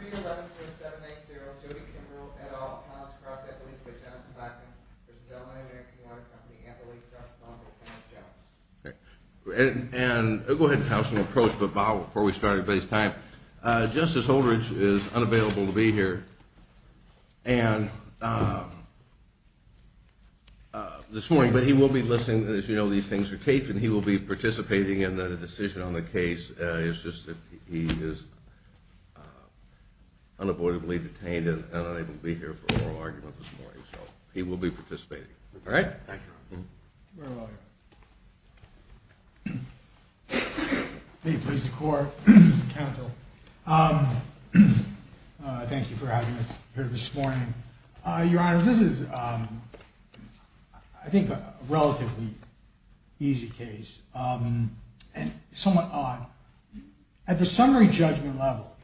311-0780, Jody Kimbrell, et al., Collins Cross, Eppley's, Wichita, Clackamas. This is Illinois-American Water Company, Eppley, Cross, Bonneville, Kenwood, Jones. He was unavoidably detained and unable to be here for oral argument this morning, so he will be participating. Thank you, Your Honor. You're very welcome. May it please the Court and the Counsel, thank you for having us here this morning. Your Honor, this is, I think, a relatively easy case and somewhat odd. At the summary judgment level,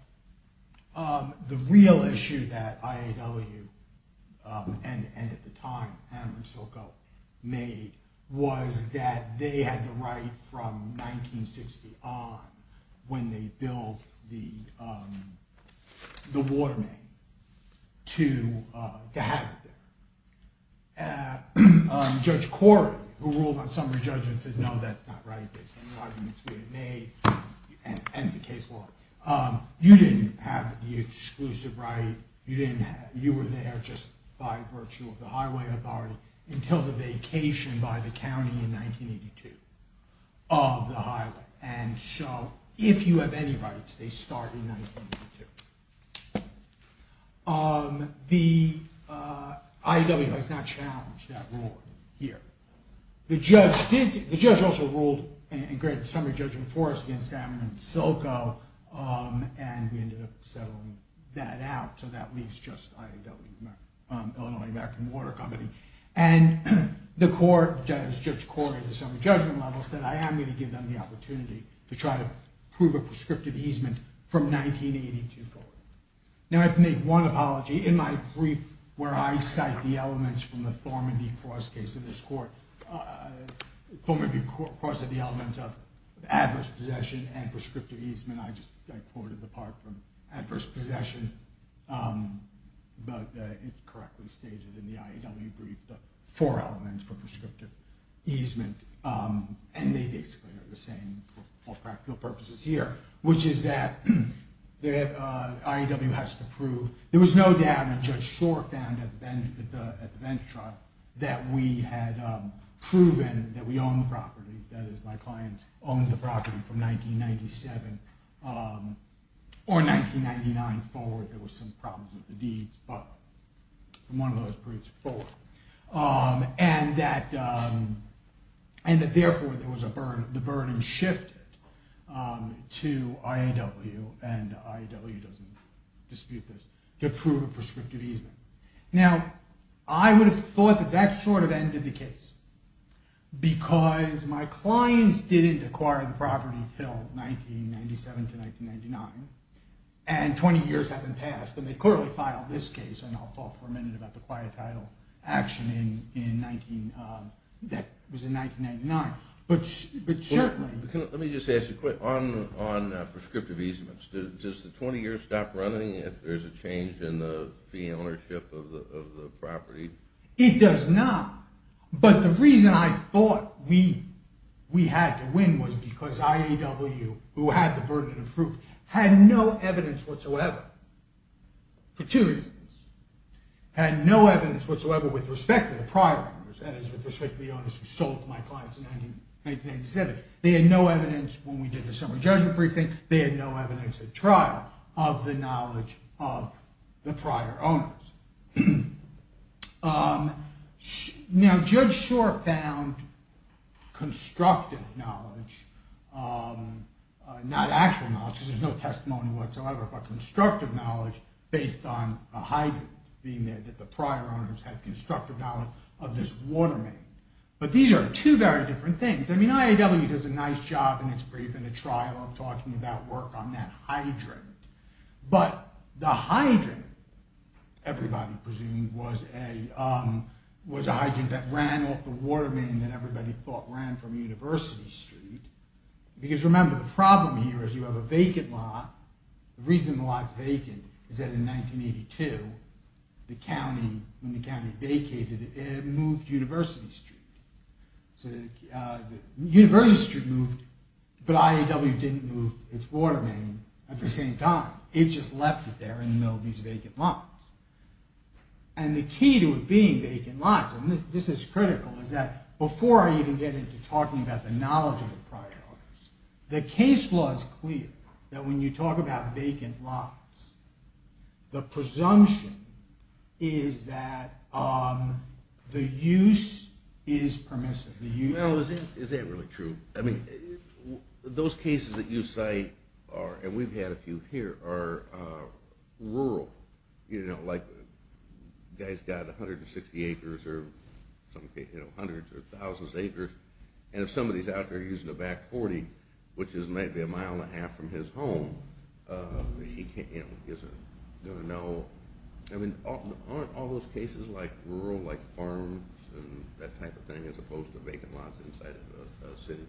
the real issue that IAW and, at the time, Hammer and Silco made was that they had the right from 1960 on, when they built the water main, to have it there. Judge Corey, who ruled on summary judgment, said, no, that's not right. There's been arguments made, and the case was. You didn't have the exclusive right. You were there just by virtue of the highway authority until the vacation by the county in 1982 of the highway. And so, if you have any rights, they start in 1982. The IAW has not challenged that rule here. The judge also ruled in summary judgment for us against Hammer and Silco, and we ended up settling that out. So that leaves just IAW, Illinois American Water Company. And the court, Judge Corey at the summary judgment level, said, I am going to give them the opportunity to try to prove a prescriptive easement from 1982 forward. Now, I have to make one apology. In my brief where I cite the elements from the Thorman v. Cross case in this court, Thorman v. Cross had the elements of adverse possession and prescriptive easement. I just quoted the part from adverse possession, but it's correctly stated in the IAW brief, the four elements for prescriptive easement. And they basically are the same for practical purposes here, which is that the IAW has to prove. There was no doubt that Judge Shore found at the bench trial that we had proven that we owned the property. That is, my client owned the property from 1997 or 1999 forward. There was some problems with the deeds, but from one of those briefs, both. And that, therefore, the burden shifted to IAW, and IAW doesn't dispute this, to prove a prescriptive easement. Now, I would have thought that that sort of ended the case, because my clients didn't acquire the property until 1997 to 1999. And 20 years had been passed, but they clearly filed this case, and I'll talk for a minute about the quiet title action that was in 1999. But certainly… Let me just ask you quick. On prescriptive easements, does the 20 years stop running if there's a change in the fee ownership of the property? It does not, but the reason I thought we had to win was because IAW, who had the burden of proof, had no evidence whatsoever. For two reasons. Had no evidence whatsoever with respect to the prior owners, that is, with respect to the owners who sold to my clients in 1997. They had no evidence when we did the summary judgment briefing. They had no evidence at trial of the knowledge of the prior owners. Now, Judge Schor found constructive knowledge, not actual knowledge, because there's no testimony whatsoever, but constructive knowledge based on a hydrant being there that the prior owners had constructive knowledge of this water main. But these are two very different things. I mean, IAW does a nice job in its briefing at trial of talking about work on that hydrant. But the hydrant, everybody presumed, was a hydrant that ran off the water main that everybody thought ran from University Street. Because remember, the problem here is you have a vacant lot. The reason the lot's vacant is that in 1982, when the county vacated, it moved to University Street. University Street moved, but IAW didn't move its water main at the same time. It just left it there in the middle of these vacant lots. And the key to it being vacant lots, and this is critical, is that before I even get into talking about the knowledge of the prior owners, the case law is clear that when you talk about vacant lots, the presumption is that the use is permissive. Well, is that really true? I mean, those cases that you cite are, and we've had a few here, are rural. You know, like a guy's got 160 acres or hundreds or thousands of acres, and if somebody's out there using a Back 40, which is maybe a mile and a half from his home, he isn't going to know. I mean, aren't all those cases like rural, like farms and that type of thing, as opposed to vacant lots inside of a city?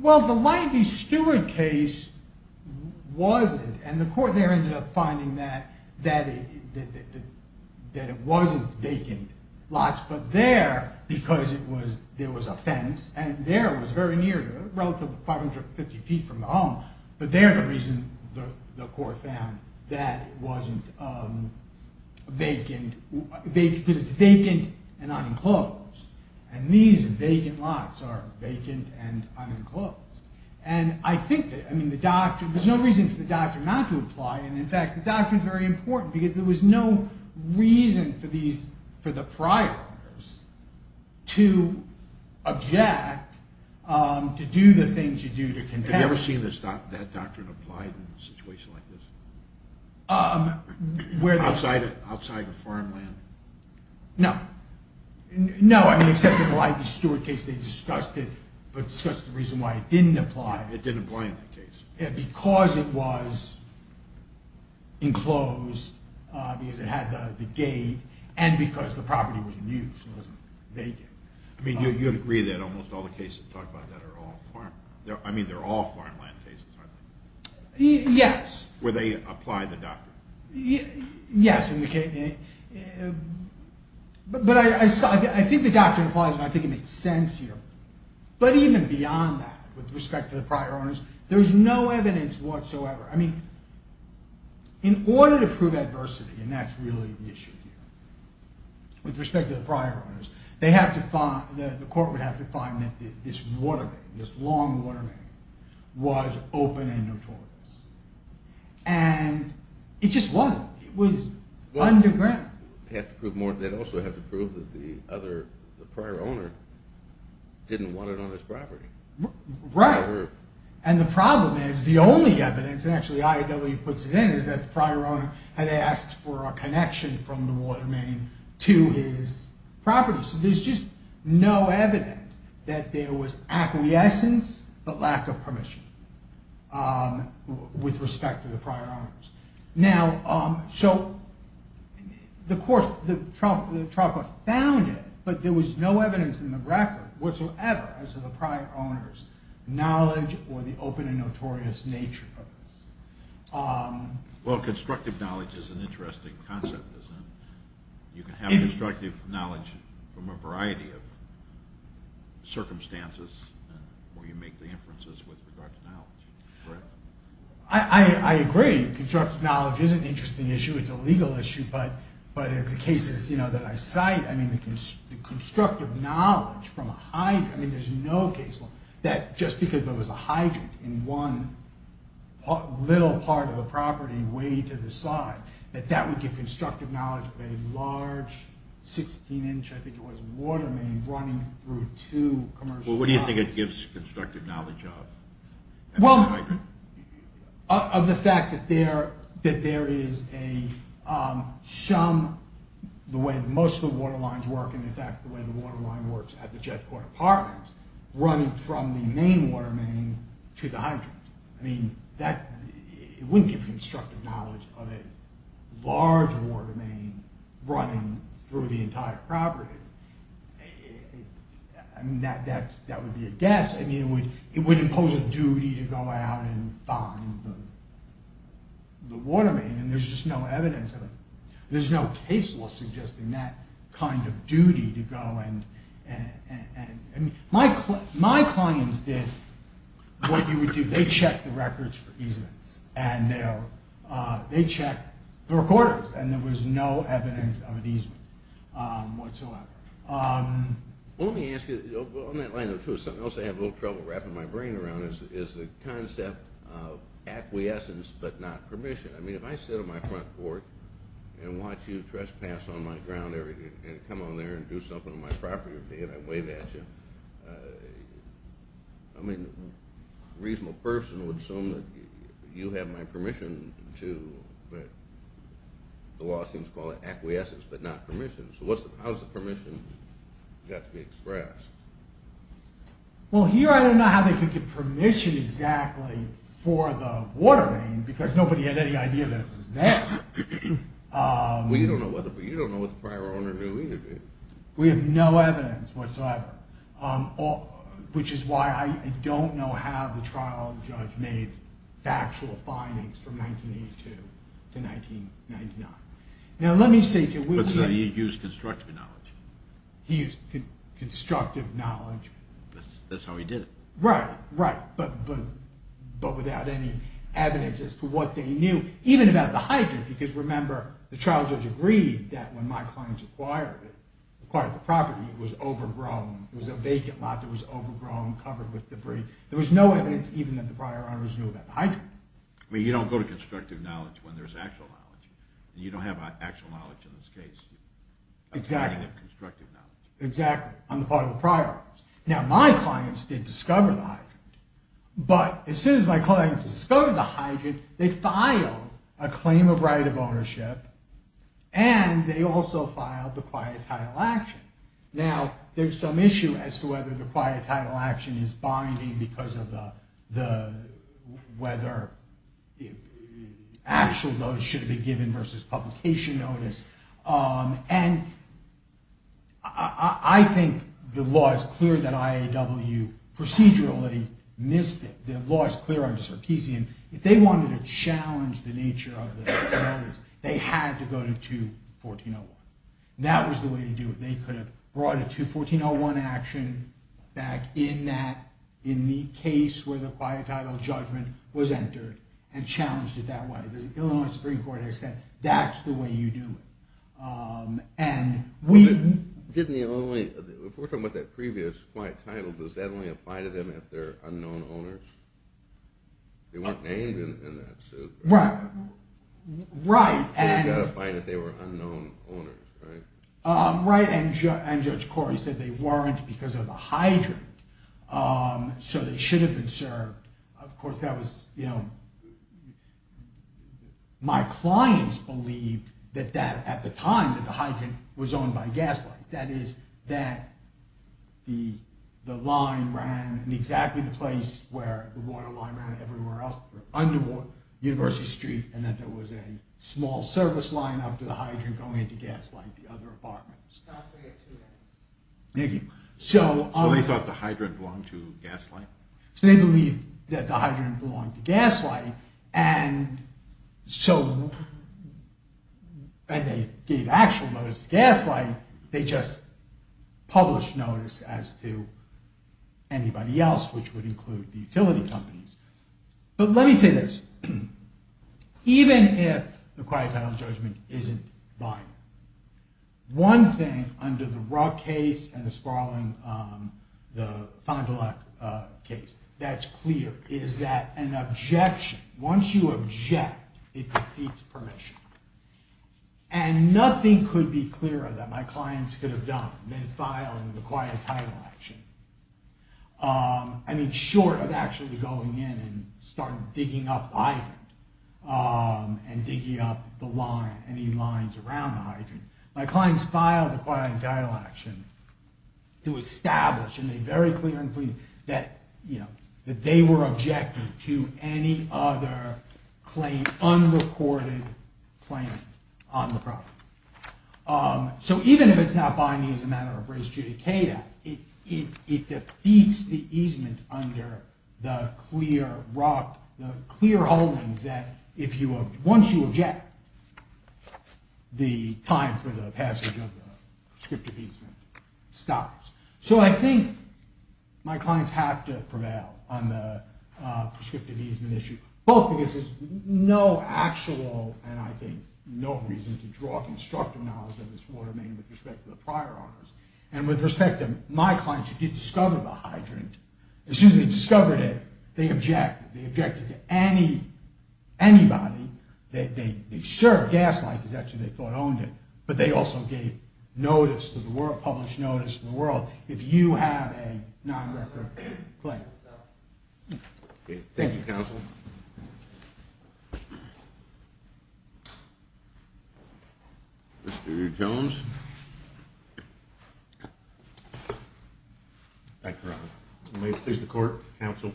Well, the Langby Steward case wasn't, and the court there ended up finding that it wasn't vacant lots. But there, because there was a fence, and there was very near, relatively 550 feet from the home, but there the reason the court found that it wasn't vacant, because it's vacant and unenclosed. And these vacant lots are vacant and unenclosed. And I think that, I mean, the doctrine, there's no reason for the doctrine not to apply, and in fact, the doctrine's very important, because there was no reason for these, for the prior owners to object to do the things you do to condemn. Have you ever seen that doctrine applied in a situation like this? Outside of farmland? No. No, I mean, except in the Langby Steward case, they discussed it, but discussed the reason why it didn't apply. It didn't apply in that case. Because it was enclosed, because it had the gate, and because the property wasn't used, it wasn't vacant. I mean, you'd agree that almost all the cases that talk about that are all farmland. I mean, they're all farmland cases, aren't they? Yes. Where they apply the doctrine. Yes. But I think the doctrine applies, and I think it makes sense here. But even beyond that, with respect to the prior owners, there's no evidence whatsoever. I mean, in order to prove adversity, and that's really the issue here, with respect to the prior owners, they have to find, the court would have to find that this water main, this long water main, was open and notorious. And it just wasn't. It was underground. They'd also have to prove that the prior owner didn't want it on his property. Right. And the problem is, the only evidence, and actually IAW puts it in, is that the prior owner had asked for a connection from the water main to his property. So there's just no evidence that there was acquiescence, but lack of permission. With respect to the prior owners. Now, so, the court, the trial court found it, but there was no evidence in the record whatsoever as to the prior owner's knowledge or the open and notorious nature of this. Well, constructive knowledge is an interesting concept, isn't it? You can have constructive knowledge from a variety of circumstances where you make the inferences with regard to knowledge, correct? I agree. Constructive knowledge is an interesting issue. It's a legal issue, but in the cases that I cite, I mean, the constructive knowledge from a hydrant, I mean, there's no case law that just because there was a hydrant in one little part of a property way to the side, that that would give constructive knowledge of a large 16-inch, I think it was, water main running through two commercial... Well, what do you think it gives constructive knowledge of? Well, of the fact that there is a, some, the way most of the water lines work, and in fact the way the water line works at the jet port apartment, running from the main water main to the hydrant. I mean, that wouldn't give constructive knowledge of a large water main running through the entire property. I mean, that would be a guess. I mean, it would impose a duty to go out and find the water main, and there's just no evidence of it. There's no case law suggesting that kind of duty to go and... My clients did what you would do. They checked the records for easements, and they checked the recorders, and there was no evidence of an easement whatsoever. Well, let me ask you, on that line, too, something else I have a little trouble wrapping my brain around is the concept of acquiescence but not permission. I mean, if I sit on my front porch and watch you trespass on my ground every day and come on there and do something on my property every day and I wave at you, I mean, a reasonable person would assume that you have my permission, too, but the law seems to call it acquiescence but not permission. So how has the permission got to be expressed? Well, here I don't know how they could get permission exactly for the water main, because nobody had any idea that it was there. Well, you don't know whether, but you don't know what the prior owner knew either, do you? We have no evidence whatsoever, which is why I don't know how the trial judge made factual findings from 1982 to 1999. Now, let me say to you... But he used constructive knowledge. He used constructive knowledge. That's how he did it. Right, right, but without any evidence as to what they knew, even about the hydrant, because remember, the trial judge agreed that when my clients acquired the property, it was overgrown, it was a vacant lot that was overgrown, covered with debris. There was no evidence even that the prior owners knew about the hydrant. I mean, you don't go to constructive knowledge when there's actual knowledge, and you don't have actual knowledge in this case. Exactly. You have constructive knowledge. Exactly, on the part of the prior owners. Now, my clients did discover the hydrant. But as soon as my clients discovered the hydrant, they filed a claim of right of ownership, and they also filed the quiet title action. Now, there's some issue as to whether the quiet title action is binding because of whether actual notice should be given versus publication notice. And I think the law is clear that IAW procedurally missed it. The law is clear under Sarkeesian. If they wanted to challenge the nature of the notice, they had to go to 214.01. That was the way to do it. They could have brought a 214.01 action back in that, in the case where the quiet title judgment was entered and challenged it that way. The Illinois Supreme Court has said, that's the way you do it. If we're talking about that previous quiet title, does that only apply to them if they're unknown owners? They weren't named in that suit. Right. Right. They got a fine if they were unknown owners, right? Right. And Judge Corey said they weren't because of the hydrant. So they should have been served. Of course, that was, you know, my clients believed that at the time that the hydrant was owned by Gaslight. That is, that the line ran in exactly the place where the water line ran everywhere else, under University Street, and that there was a small service line up to the hydrant going into Gaslight, the other apartment. I'll say it, too. Thank you. So they thought the hydrant belonged to Gaslight? So they believed that the hydrant belonged to Gaslight, and so when they gave actual notice to Gaslight, they just published notice as to anybody else, which would include the utility companies. But let me say this. Even if the quiet title judgment isn't binding, one thing under the Rugg case and the Sparling, the Fond du Lac case that's clear is that an objection, once you object, it defeats permission. And nothing could be clearer that my clients could have done than filing the quiet title action. I mean, short of actually going in and starting digging up the hydrant and digging up the line, any lines around the hydrant, my clients filed the quiet title action to establish, and they very clearly, that they were objecting to any other claim, unrecorded claim on the property. So even if it's not binding as a matter of res judicata, it defeats the easement under the clear holding that once you object, the time for the passage of the prescriptive easement stops. So I think my clients have to prevail on the prescriptive easement issue, both because there's no actual, and I think no reason, to draw constructive knowledge of this water main with respect to the prior owners. And with respect to my clients who did discover the hydrant, as soon as they discovered it, they objected. They objected to anybody. They sure, Gaslight is actually, they thought, owned it. But they also gave notice to the world, published notice to the world, Thank you, counsel. Mr. Jones. Thank you, Your Honor. May it please the court, counsel.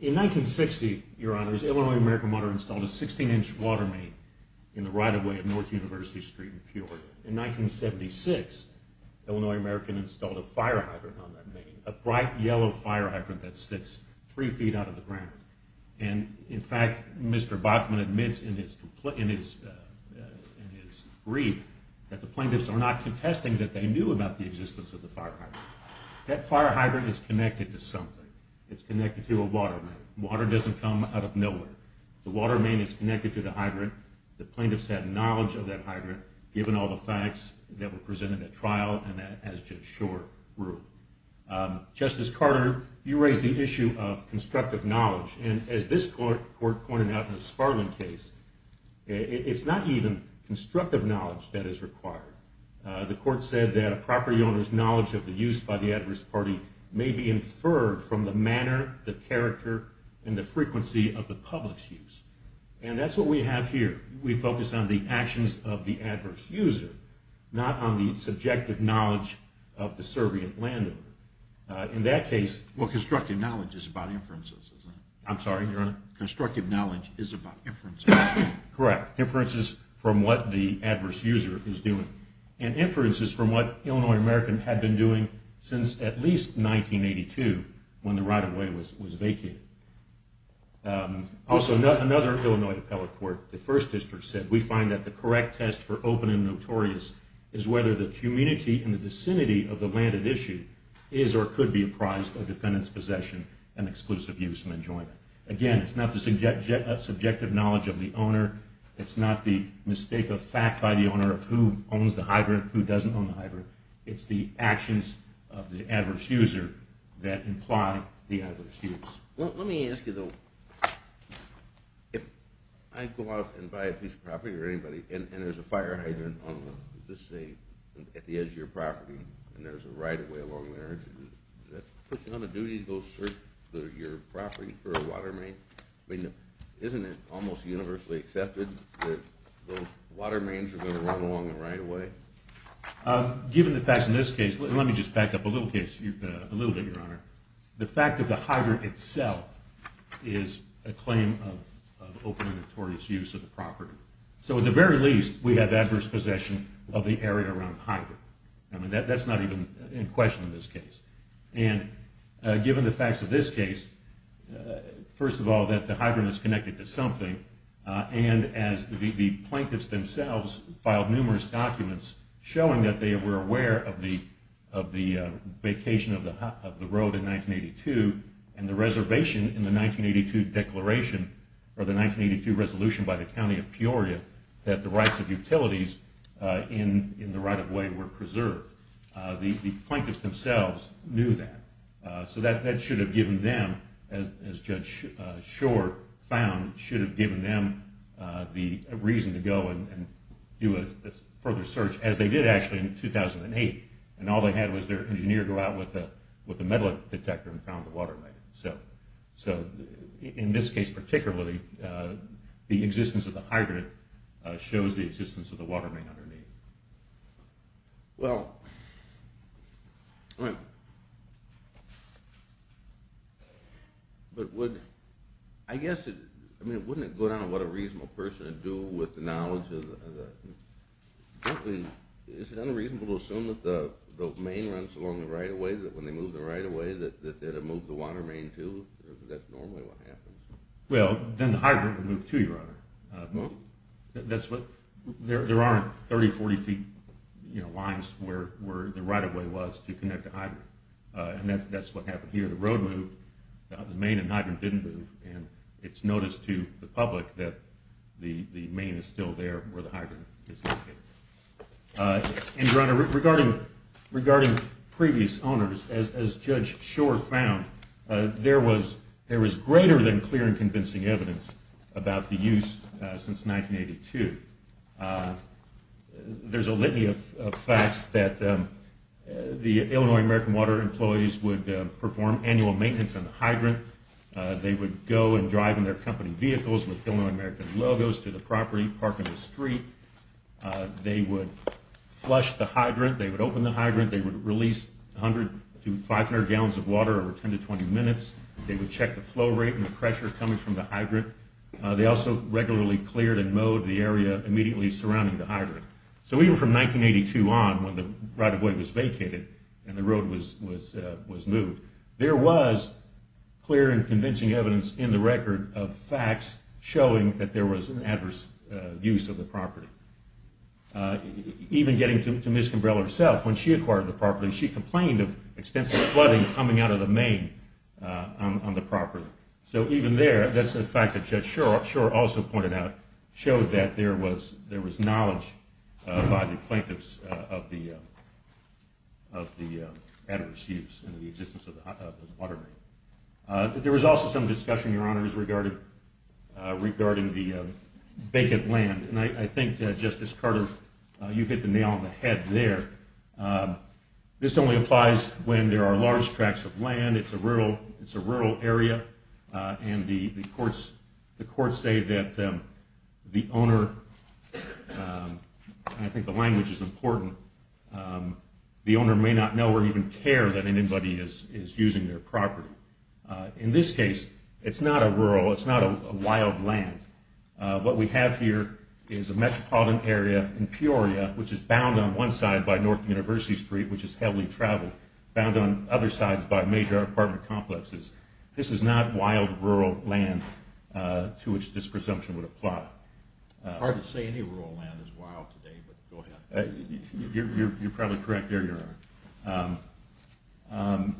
In 1960, Your Honor, Illinois American Water installed a 16-inch water main in the right-of-way of North University Street in Peoria. In 1976, Illinois American installed a fire hydrant on that main, a bright yellow fire hydrant that sits three feet out of the ground. And in fact, Mr. Bachman admits in his brief, that the plaintiffs are not contesting that they knew about the existence of the fire hydrant. That fire hydrant is connected to something. It's connected to a water main. Water doesn't come out of nowhere. The water main is connected to the hydrant. The plaintiffs had knowledge of that hydrant, given all the facts that were presented at trial, and that as just short rule. Justice Carter, you raised the issue of constructive knowledge. And as this court pointed out in the Sparlin case, it's not even constructive knowledge that is required. The court said that a property owner's knowledge of the use by the adverse party may be inferred from the manner, the character, and the frequency of the public's use. And that's what we have here. We focus on the actions of the adverse user, not on the subjective knowledge of the servient landowner. In that case. Well, constructive knowledge is about inferences, isn't it? I'm sorry, Your Honor? Constructive knowledge is about inferences. Correct. Inferences from what the adverse user is doing. And inferences from what Illinois American had been doing since at least 1982, when the right-of-way was vacated. Also, another Illinois appellate court, the First District, said we find that the correct test for open and notorious is whether the community in the vicinity of the landed issue is or could be apprised of defendant's possession and exclusive use and enjoyment. Again, it's not the subjective knowledge of the owner. It's not the mistake of fact by the owner of who owns the hybrid, who doesn't own the hybrid. It's the actions of the adverse user that imply the adverse use. Let me ask you, though. If I go out and buy a piece of property or anybody and there's a fire hydrant at the edge of your property and there's a right-of-way along there, does that put you on a duty to go search your property for a water main? Isn't it almost universally accepted that those water mains are going to run along the right-of-way? Given the facts in this case, let me just back up a little bit, Your Honor. The fact of the hybrid itself is a claim of open and notorious use of the property. So at the very least, we have adverse possession of the area around the hybrid. I mean, that's not even in question in this case. And given the facts of this case, first of all, that the hybrid is connected to something, and as the plaintiffs themselves filed numerous documents showing that they and the reservation in the 1982 resolution by the County of Peoria that the rights of utilities in the right-of-way were preserved, the plaintiffs themselves knew that. So that should have given them, as Judge Shore found, should have given them the reason to go and do a further search, as they did actually in 2008. And all they had was their engineer go out with a metal detector and found the water main. So in this case particularly, the existence of the hybrid shows the existence of the water main underneath. Well, I guess, I mean, wouldn't it go down to what a reasonable person would do with the knowledge? I mean, is it unreasonable to assume that the main runs along the right-of-way, that when they moved the right-of-way that it moved the water main too? Is that normally what happens? Well, then the hybrid would move too, Your Honor. There aren't 30, 40 feet lines where the right-of-way was to connect the hybrid. And that's what happened here. The road moved. The main and hybrid didn't move. And it's noticed to the public that the main is still there where the hybrid is located. And, Your Honor, regarding previous owners, as Judge Shore found, there was greater than clear and convincing evidence about the use since 1982. There's a litany of facts that the Illinois American Water employees would perform annual maintenance on the hydrant. They would go and drive in their company vehicles with Illinois American logos to the property, parking the street. They would flush the hydrant. They would open the hydrant. They would release 100 to 500 gallons of water over 10 to 20 minutes. They would check the flow rate and the pressure coming from the hydrant. They also regularly cleared and mowed the area immediately surrounding the hydrant. So even from 1982 on when the right-of-way was vacated and the road was moved, there was clear and convincing evidence in the record of facts showing that there was an adverse use of the property. Even getting to Ms. Kimbrell herself, when she acquired the property, she complained of extensive flooding coming out of the main on the property. So even there, that's a fact that Judge Shore also pointed out, showed that there was knowledge by the plaintiffs of the adverse use and the existence of the water. There was also some discussion, Your Honors, regarding the vacant land. And I think, Justice Carter, you hit the nail on the head there. This only applies when there are large tracts of land. It's a rural area. And the courts say that the owner, and I think the language is important, the owner may not know or even care that anybody is using their property. In this case, it's not a rural, it's not a wild land. What we have here is a metropolitan area in Peoria, which is bound on one side by North University Street, which is heavily traveled, bound on other sides by major apartment complexes. This is not wild rural land to which this presumption would apply. It's hard to say any rural land is wild today, but go ahead. You're probably correct there, Your Honor.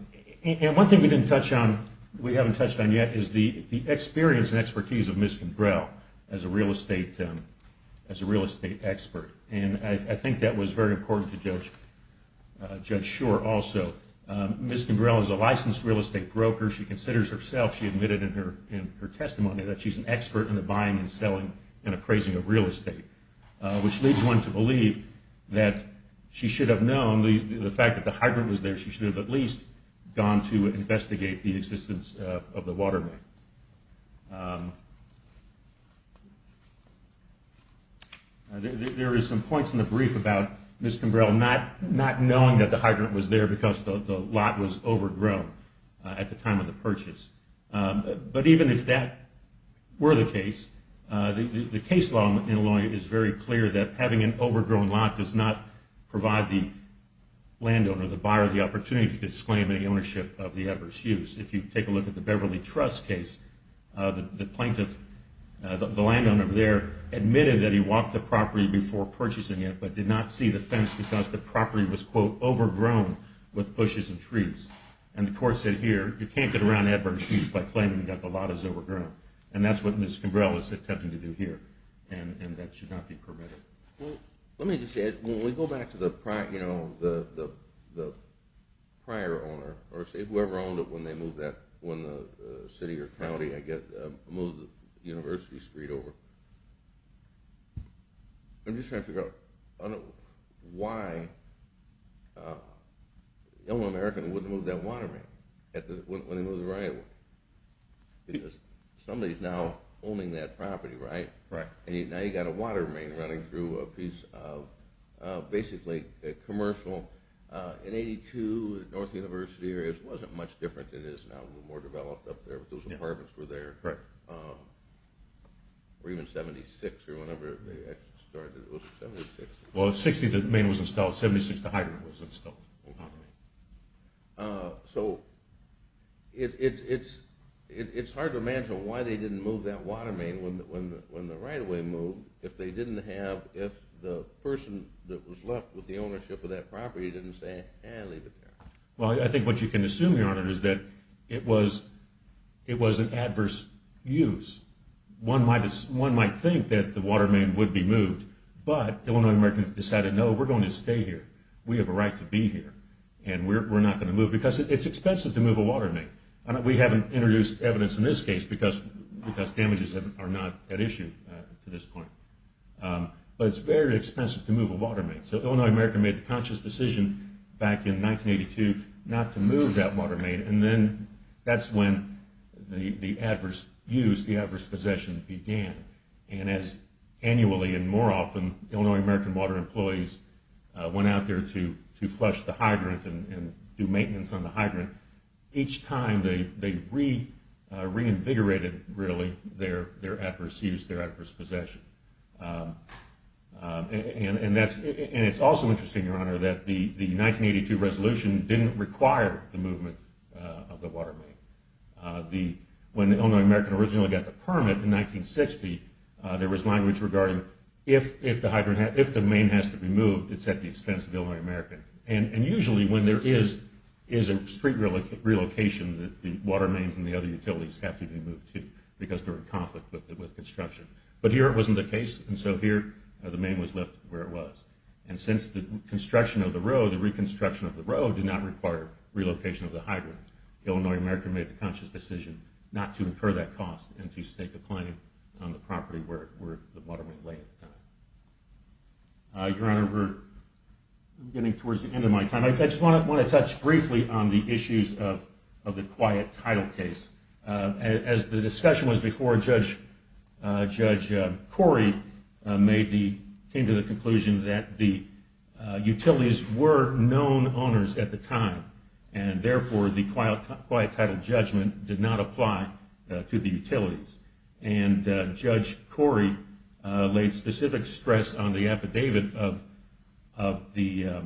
And one thing we didn't touch on, we haven't touched on yet, is the experience and expertise of Ms. Kimbrell as a real estate expert. And I think that was very important to Judge Shore also. Ms. Kimbrell is a licensed real estate broker. She considers herself, she admitted in her testimony, that she's an expert in the buying and selling and appraising of real estate, which leads one to believe that she should have known, the fact that the hydrant was there, she should have at least gone to investigate the existence of the waterway. There are some points in the brief about Ms. Kimbrell not knowing that the hydrant was there because the lot was overgrown at the time of the purchase. But even if that were the case, the case law in Illinois is very clear that having an overgrown lot does not provide the landowner, the buyer, the opportunity to disclaim any ownership of the ever's use. If you take a look at the Beverly Trust case, the plaintiff, the landowner there, admitted that he walked the property before purchasing it, but did not see the fence because the property was, quote, overgrown with bushes and trees. And the court said, here, you can't get around ever's use by claiming that the lot is overgrown. And that's what Ms. Kimbrell is attempting to do here, and that should not be permitted. Let me just add, when we go back to the prior owner, or say whoever owned it when they moved that city or county, I guess moved the University Street over. I'm just trying to figure out why a young American wouldn't move that water main when he moved to Ryanwood. Because somebody is now owning that property, right? Correct. And now you've got a water main running through a piece of basically a commercial. In 1982, the North University area wasn't much different than it is now. It was more developed up there, but those apartments were there. Correct. Or even 76, or whenever they actually started, it was 76. Well, at 60, the main was installed. At 76, the hydrant was installed. So it's hard to imagine why they didn't move that water main when the right-of-way moved if the person that was left with the ownership of that property didn't say, eh, leave it there. Well, I think what you can assume, Your Honor, is that it was an adverse use. One might think that the water main would be moved, but Illinois Americans decided, no, we're going to stay here. We have a right to be here, and we're not going to move it because it's expensive to move a water main. We haven't introduced evidence in this case because damages are not at issue at this point. But it's very expensive to move a water main. So Illinois Americans made the conscious decision back in 1982 not to move that water main, and then that's when the adverse use, the adverse possession began. And as annually and more often Illinois American water employees went out there to flush the hydrant and do maintenance on the hydrant, each time they reinvigorated, really, their adverse use, their adverse possession. And it's also interesting, Your Honor, that the 1982 resolution didn't require the movement of the water main. When the Illinois American originally got the permit in 1960, there was language regarding if the main has to be moved, it's at the expense of the Illinois American. And usually when there is a street relocation, the water mains and the other utilities have to be moved too because they're in conflict with construction. But here it wasn't the case, and so here the main was left where it was. And since the construction of the road, the reconstruction of the road, did not require relocation of the hydrant, the Illinois American made the conscious decision not to incur that cost and to stake a claim on the property where the water main lay at the time. Your Honor, we're getting towards the end of my time. I just want to touch briefly on the issues of the quiet tile case. As the discussion was before, Judge Corey came to the conclusion that the utilities were known owners at the time, and therefore the quiet tile judgment did not apply to the utilities. And Judge Corey laid specific stress on the affidavit of the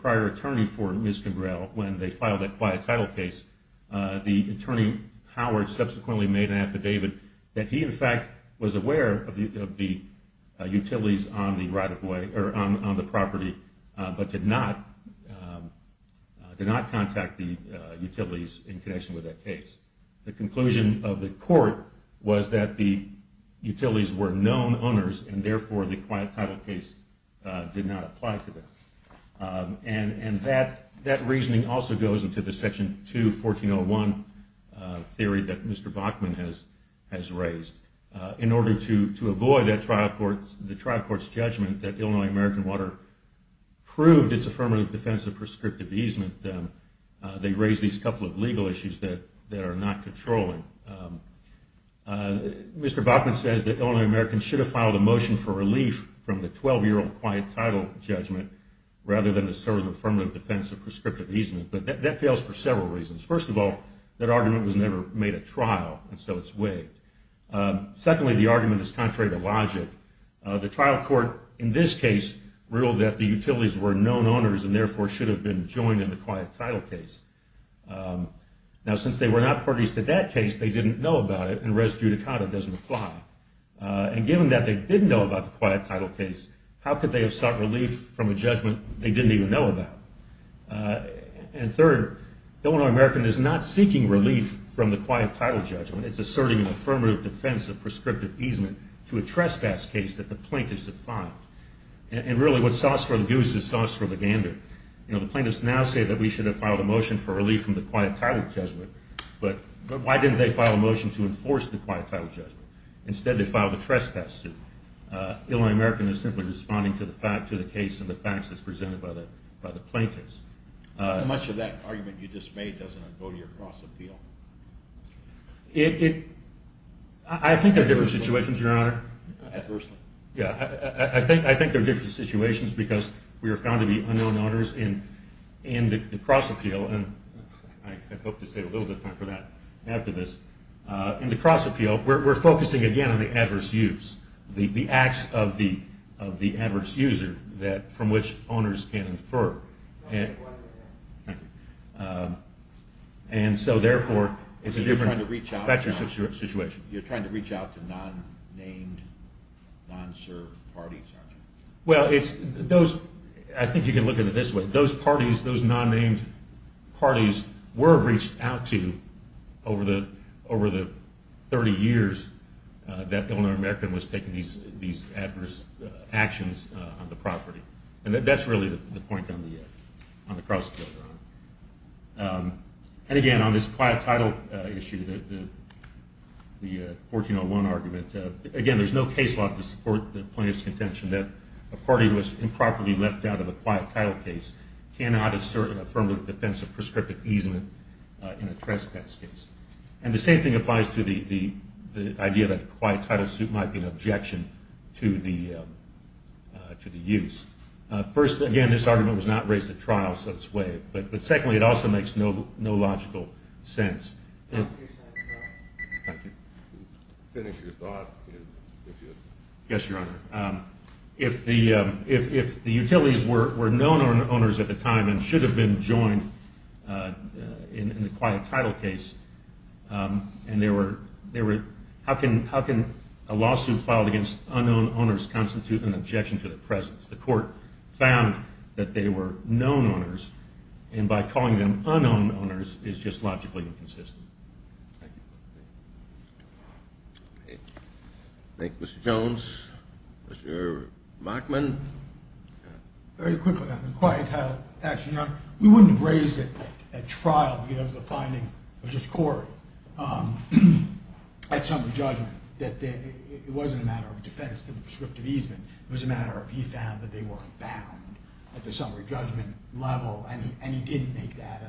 prior attorney for Ms. Kimbrell when they filed the quiet tile case. The attorney, Howard, subsequently made an affidavit that he, in fact, was aware of the utilities on the property but did not contact the utilities in connection with that case. The conclusion of the court was that the utilities were known owners, and therefore the quiet tile case did not apply to them. And that reasoning also goes into the Section 2, 1401 theory that Mr. Bachman has raised. In order to avoid the trial court's judgment that Illinois American Water proved its affirmative defense of prescriptive easement, they raised these couple of legal issues that are not controlling. Mr. Bachman says that Illinois American should have filed a motion for relief from the 12-year-old quiet tile judgment rather than the affirmative defense of prescriptive easement. But that fails for several reasons. First of all, that argument was never made at trial, and so it's waived. Secondly, the argument is contrary to logic. The trial court in this case ruled that the utilities were known owners and therefore should have been joined in the quiet tile case. Now, since they were not parties to that case, they didn't know about it, and res judicata doesn't apply. And given that they didn't know about the quiet tile case, how could they have sought relief from a judgment they didn't even know about? And third, Illinois American is not seeking relief from the quiet tile judgment. It's asserting an affirmative defense of prescriptive easement to a trespass case that the plaintiffs have filed. And really what's sauce for the goose is sauce for the gander. You know, the plaintiffs now say that we should have filed a motion for relief from the quiet tile judgment, but why didn't they file a motion to enforce the quiet tile judgment? Instead, they filed a trespass suit. Illinois American is simply responding to the case and the facts as presented by the plaintiffs. How much of that argument you just made doesn't go to your cross appeal? I think there are different situations, Your Honor. Adversely. Yeah, I think there are different situations because we are found to be unknown owners in the cross appeal, and I hope to save a little bit of time for that after this. In the cross appeal, we're focusing again on the adverse use, the acts of the adverse user from which owners can infer. And so, therefore, it's a different situation. You're trying to reach out to non-named, non-served parties, aren't you? Well, I think you can look at it this way. Those parties, those non-named parties, were reached out to over the 30 years that Illinois American was taking these adverse actions on the property. And that's really the point on the cross appeal, Your Honor. And again, on this quiet title issue, the 1401 argument, again, there's no case law to support the plaintiff's contention that a party was improperly left out of a quiet title case cannot assert an affirmative defense of prescriptive easement in a trespass case. And the same thing applies to the idea that a quiet title suit might be an objection to the use. First, again, this argument was not raised at trial, so it's waived. But secondly, it also makes no logical sense. Finish your thought. Yes, Your Honor. If the utilities were known owners at the time and should have been joined in the quiet title case, how can a lawsuit filed against unknown owners constitute an objection to their presence? The court found that they were known owners, and by calling them unknown owners is just logically inconsistent. Thank you. Thank you, Mr. Jones. Mr. Machman. Very quickly on the quiet title action, Your Honor. We wouldn't have raised it at trial if it was a finding of this court at summary judgment that it wasn't a matter of defense to the prescriptive easement. It was a matter of he found that they weren't bound at the summary judgment level, and he didn't make that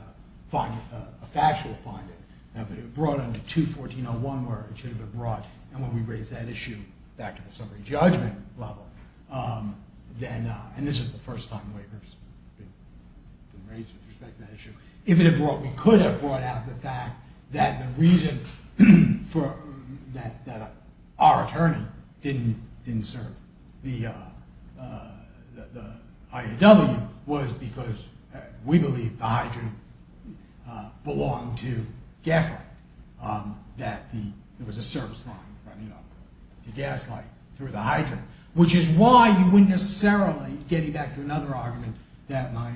a factual finding. Now, if it had been brought under 214.01, where it should have been brought, and when we raised that issue back at the summary judgment level, and this is the first time waivers have been raised with respect to that issue. If it had brought... We could have brought out the fact that the reason that our attorney didn't serve the IAW was because we believe the hydrant belonged to Gaslight, that there was a service line running up to Gaslight through the hydrant, which is why you wouldn't necessarily, getting back to another argument that my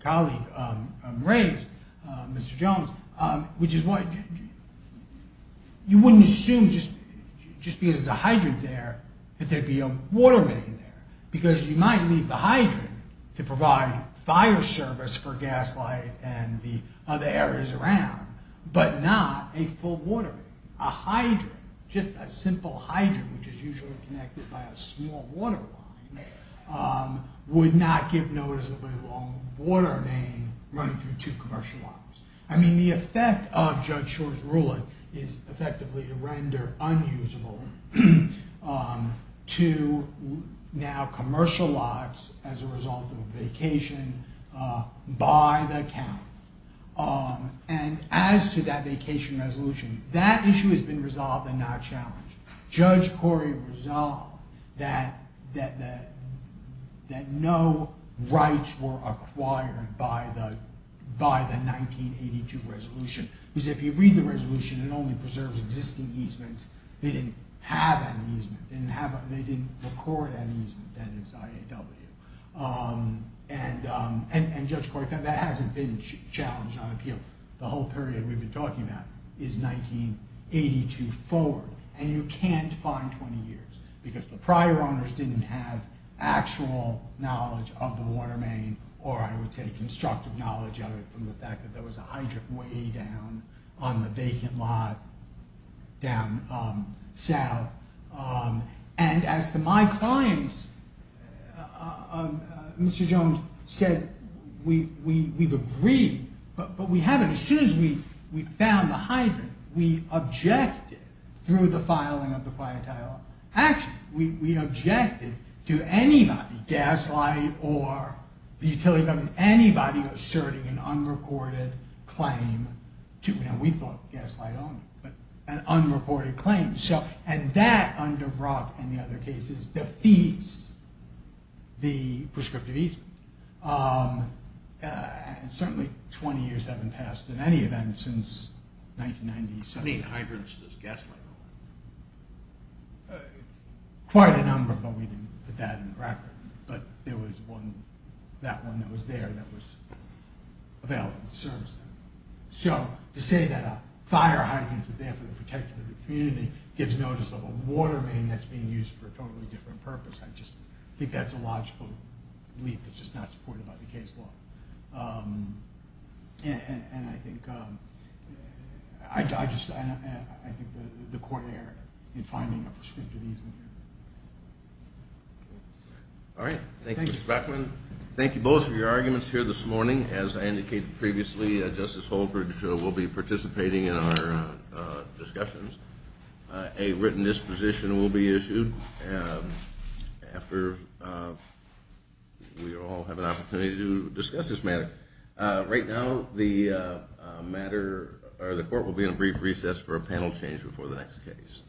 colleague raised, Mr. Jones, which is why you wouldn't assume just because there's a hydrant there that there'd be a water main there, because you might leave the hydrant to provide fire service for Gaslight and the other areas around, but not a full water main. A hydrant, just a simple hydrant, which is usually connected by a small water line, would not give noticeably long water main running through two commercial lines. I mean, the effect of Judge Shor's ruling is effectively to render unusable to now commercial lots as a result of a vacation by the county. And as to that vacation resolution, that issue has been resolved and not challenged. Judge Corey resolved that no rights were acquired by the 1982 resolution. Because if you read the resolution, it only preserves existing easements. They didn't have an easement. They didn't record an easement, that is IAW. And Judge Corey found that hasn't been challenged on appeal. The whole period we've been talking about is 1982 forward, and you can't find 20 years, because the prior owners didn't have actual knowledge of the water main, or I would say constructive knowledge of it, from the fact that there was a hydrant way down on the vacant lot down south. And as to my clients, Mr. Jones said, we've agreed, but we haven't. As soon as we found the hydrant, we objected through the filing of the quiet tile. Actually, we objected to anybody, Gaslight or the utility company, anybody asserting an unrecorded claim to, and we thought Gaslight owned it, but an unrecorded claim. And that, under Brock and the other cases, defeats the prescriptive easement. Certainly 20 years haven't passed in any event since 1997. How many hydrants does Gaslight own? Quite a number, but we didn't put that on the record. But there was one, that one that was there, that was available to service them. So to say that a fire hydrant is there for the protection of the community gives notice of a water main that's being used for a totally different purpose. I just think that's a logical leap that's just not supported by the case law. And I think the court erred in finding a prescriptive easement here. All right. Thank you, Mr. Beckman. Thank you both for your arguments here this morning. As I indicated previously, Justice Holbrook will be participating in our discussions. A written disposition will be issued after we all have an opportunity to discuss this matter. Right now, the court will be in a brief recess for a panel change before the next case.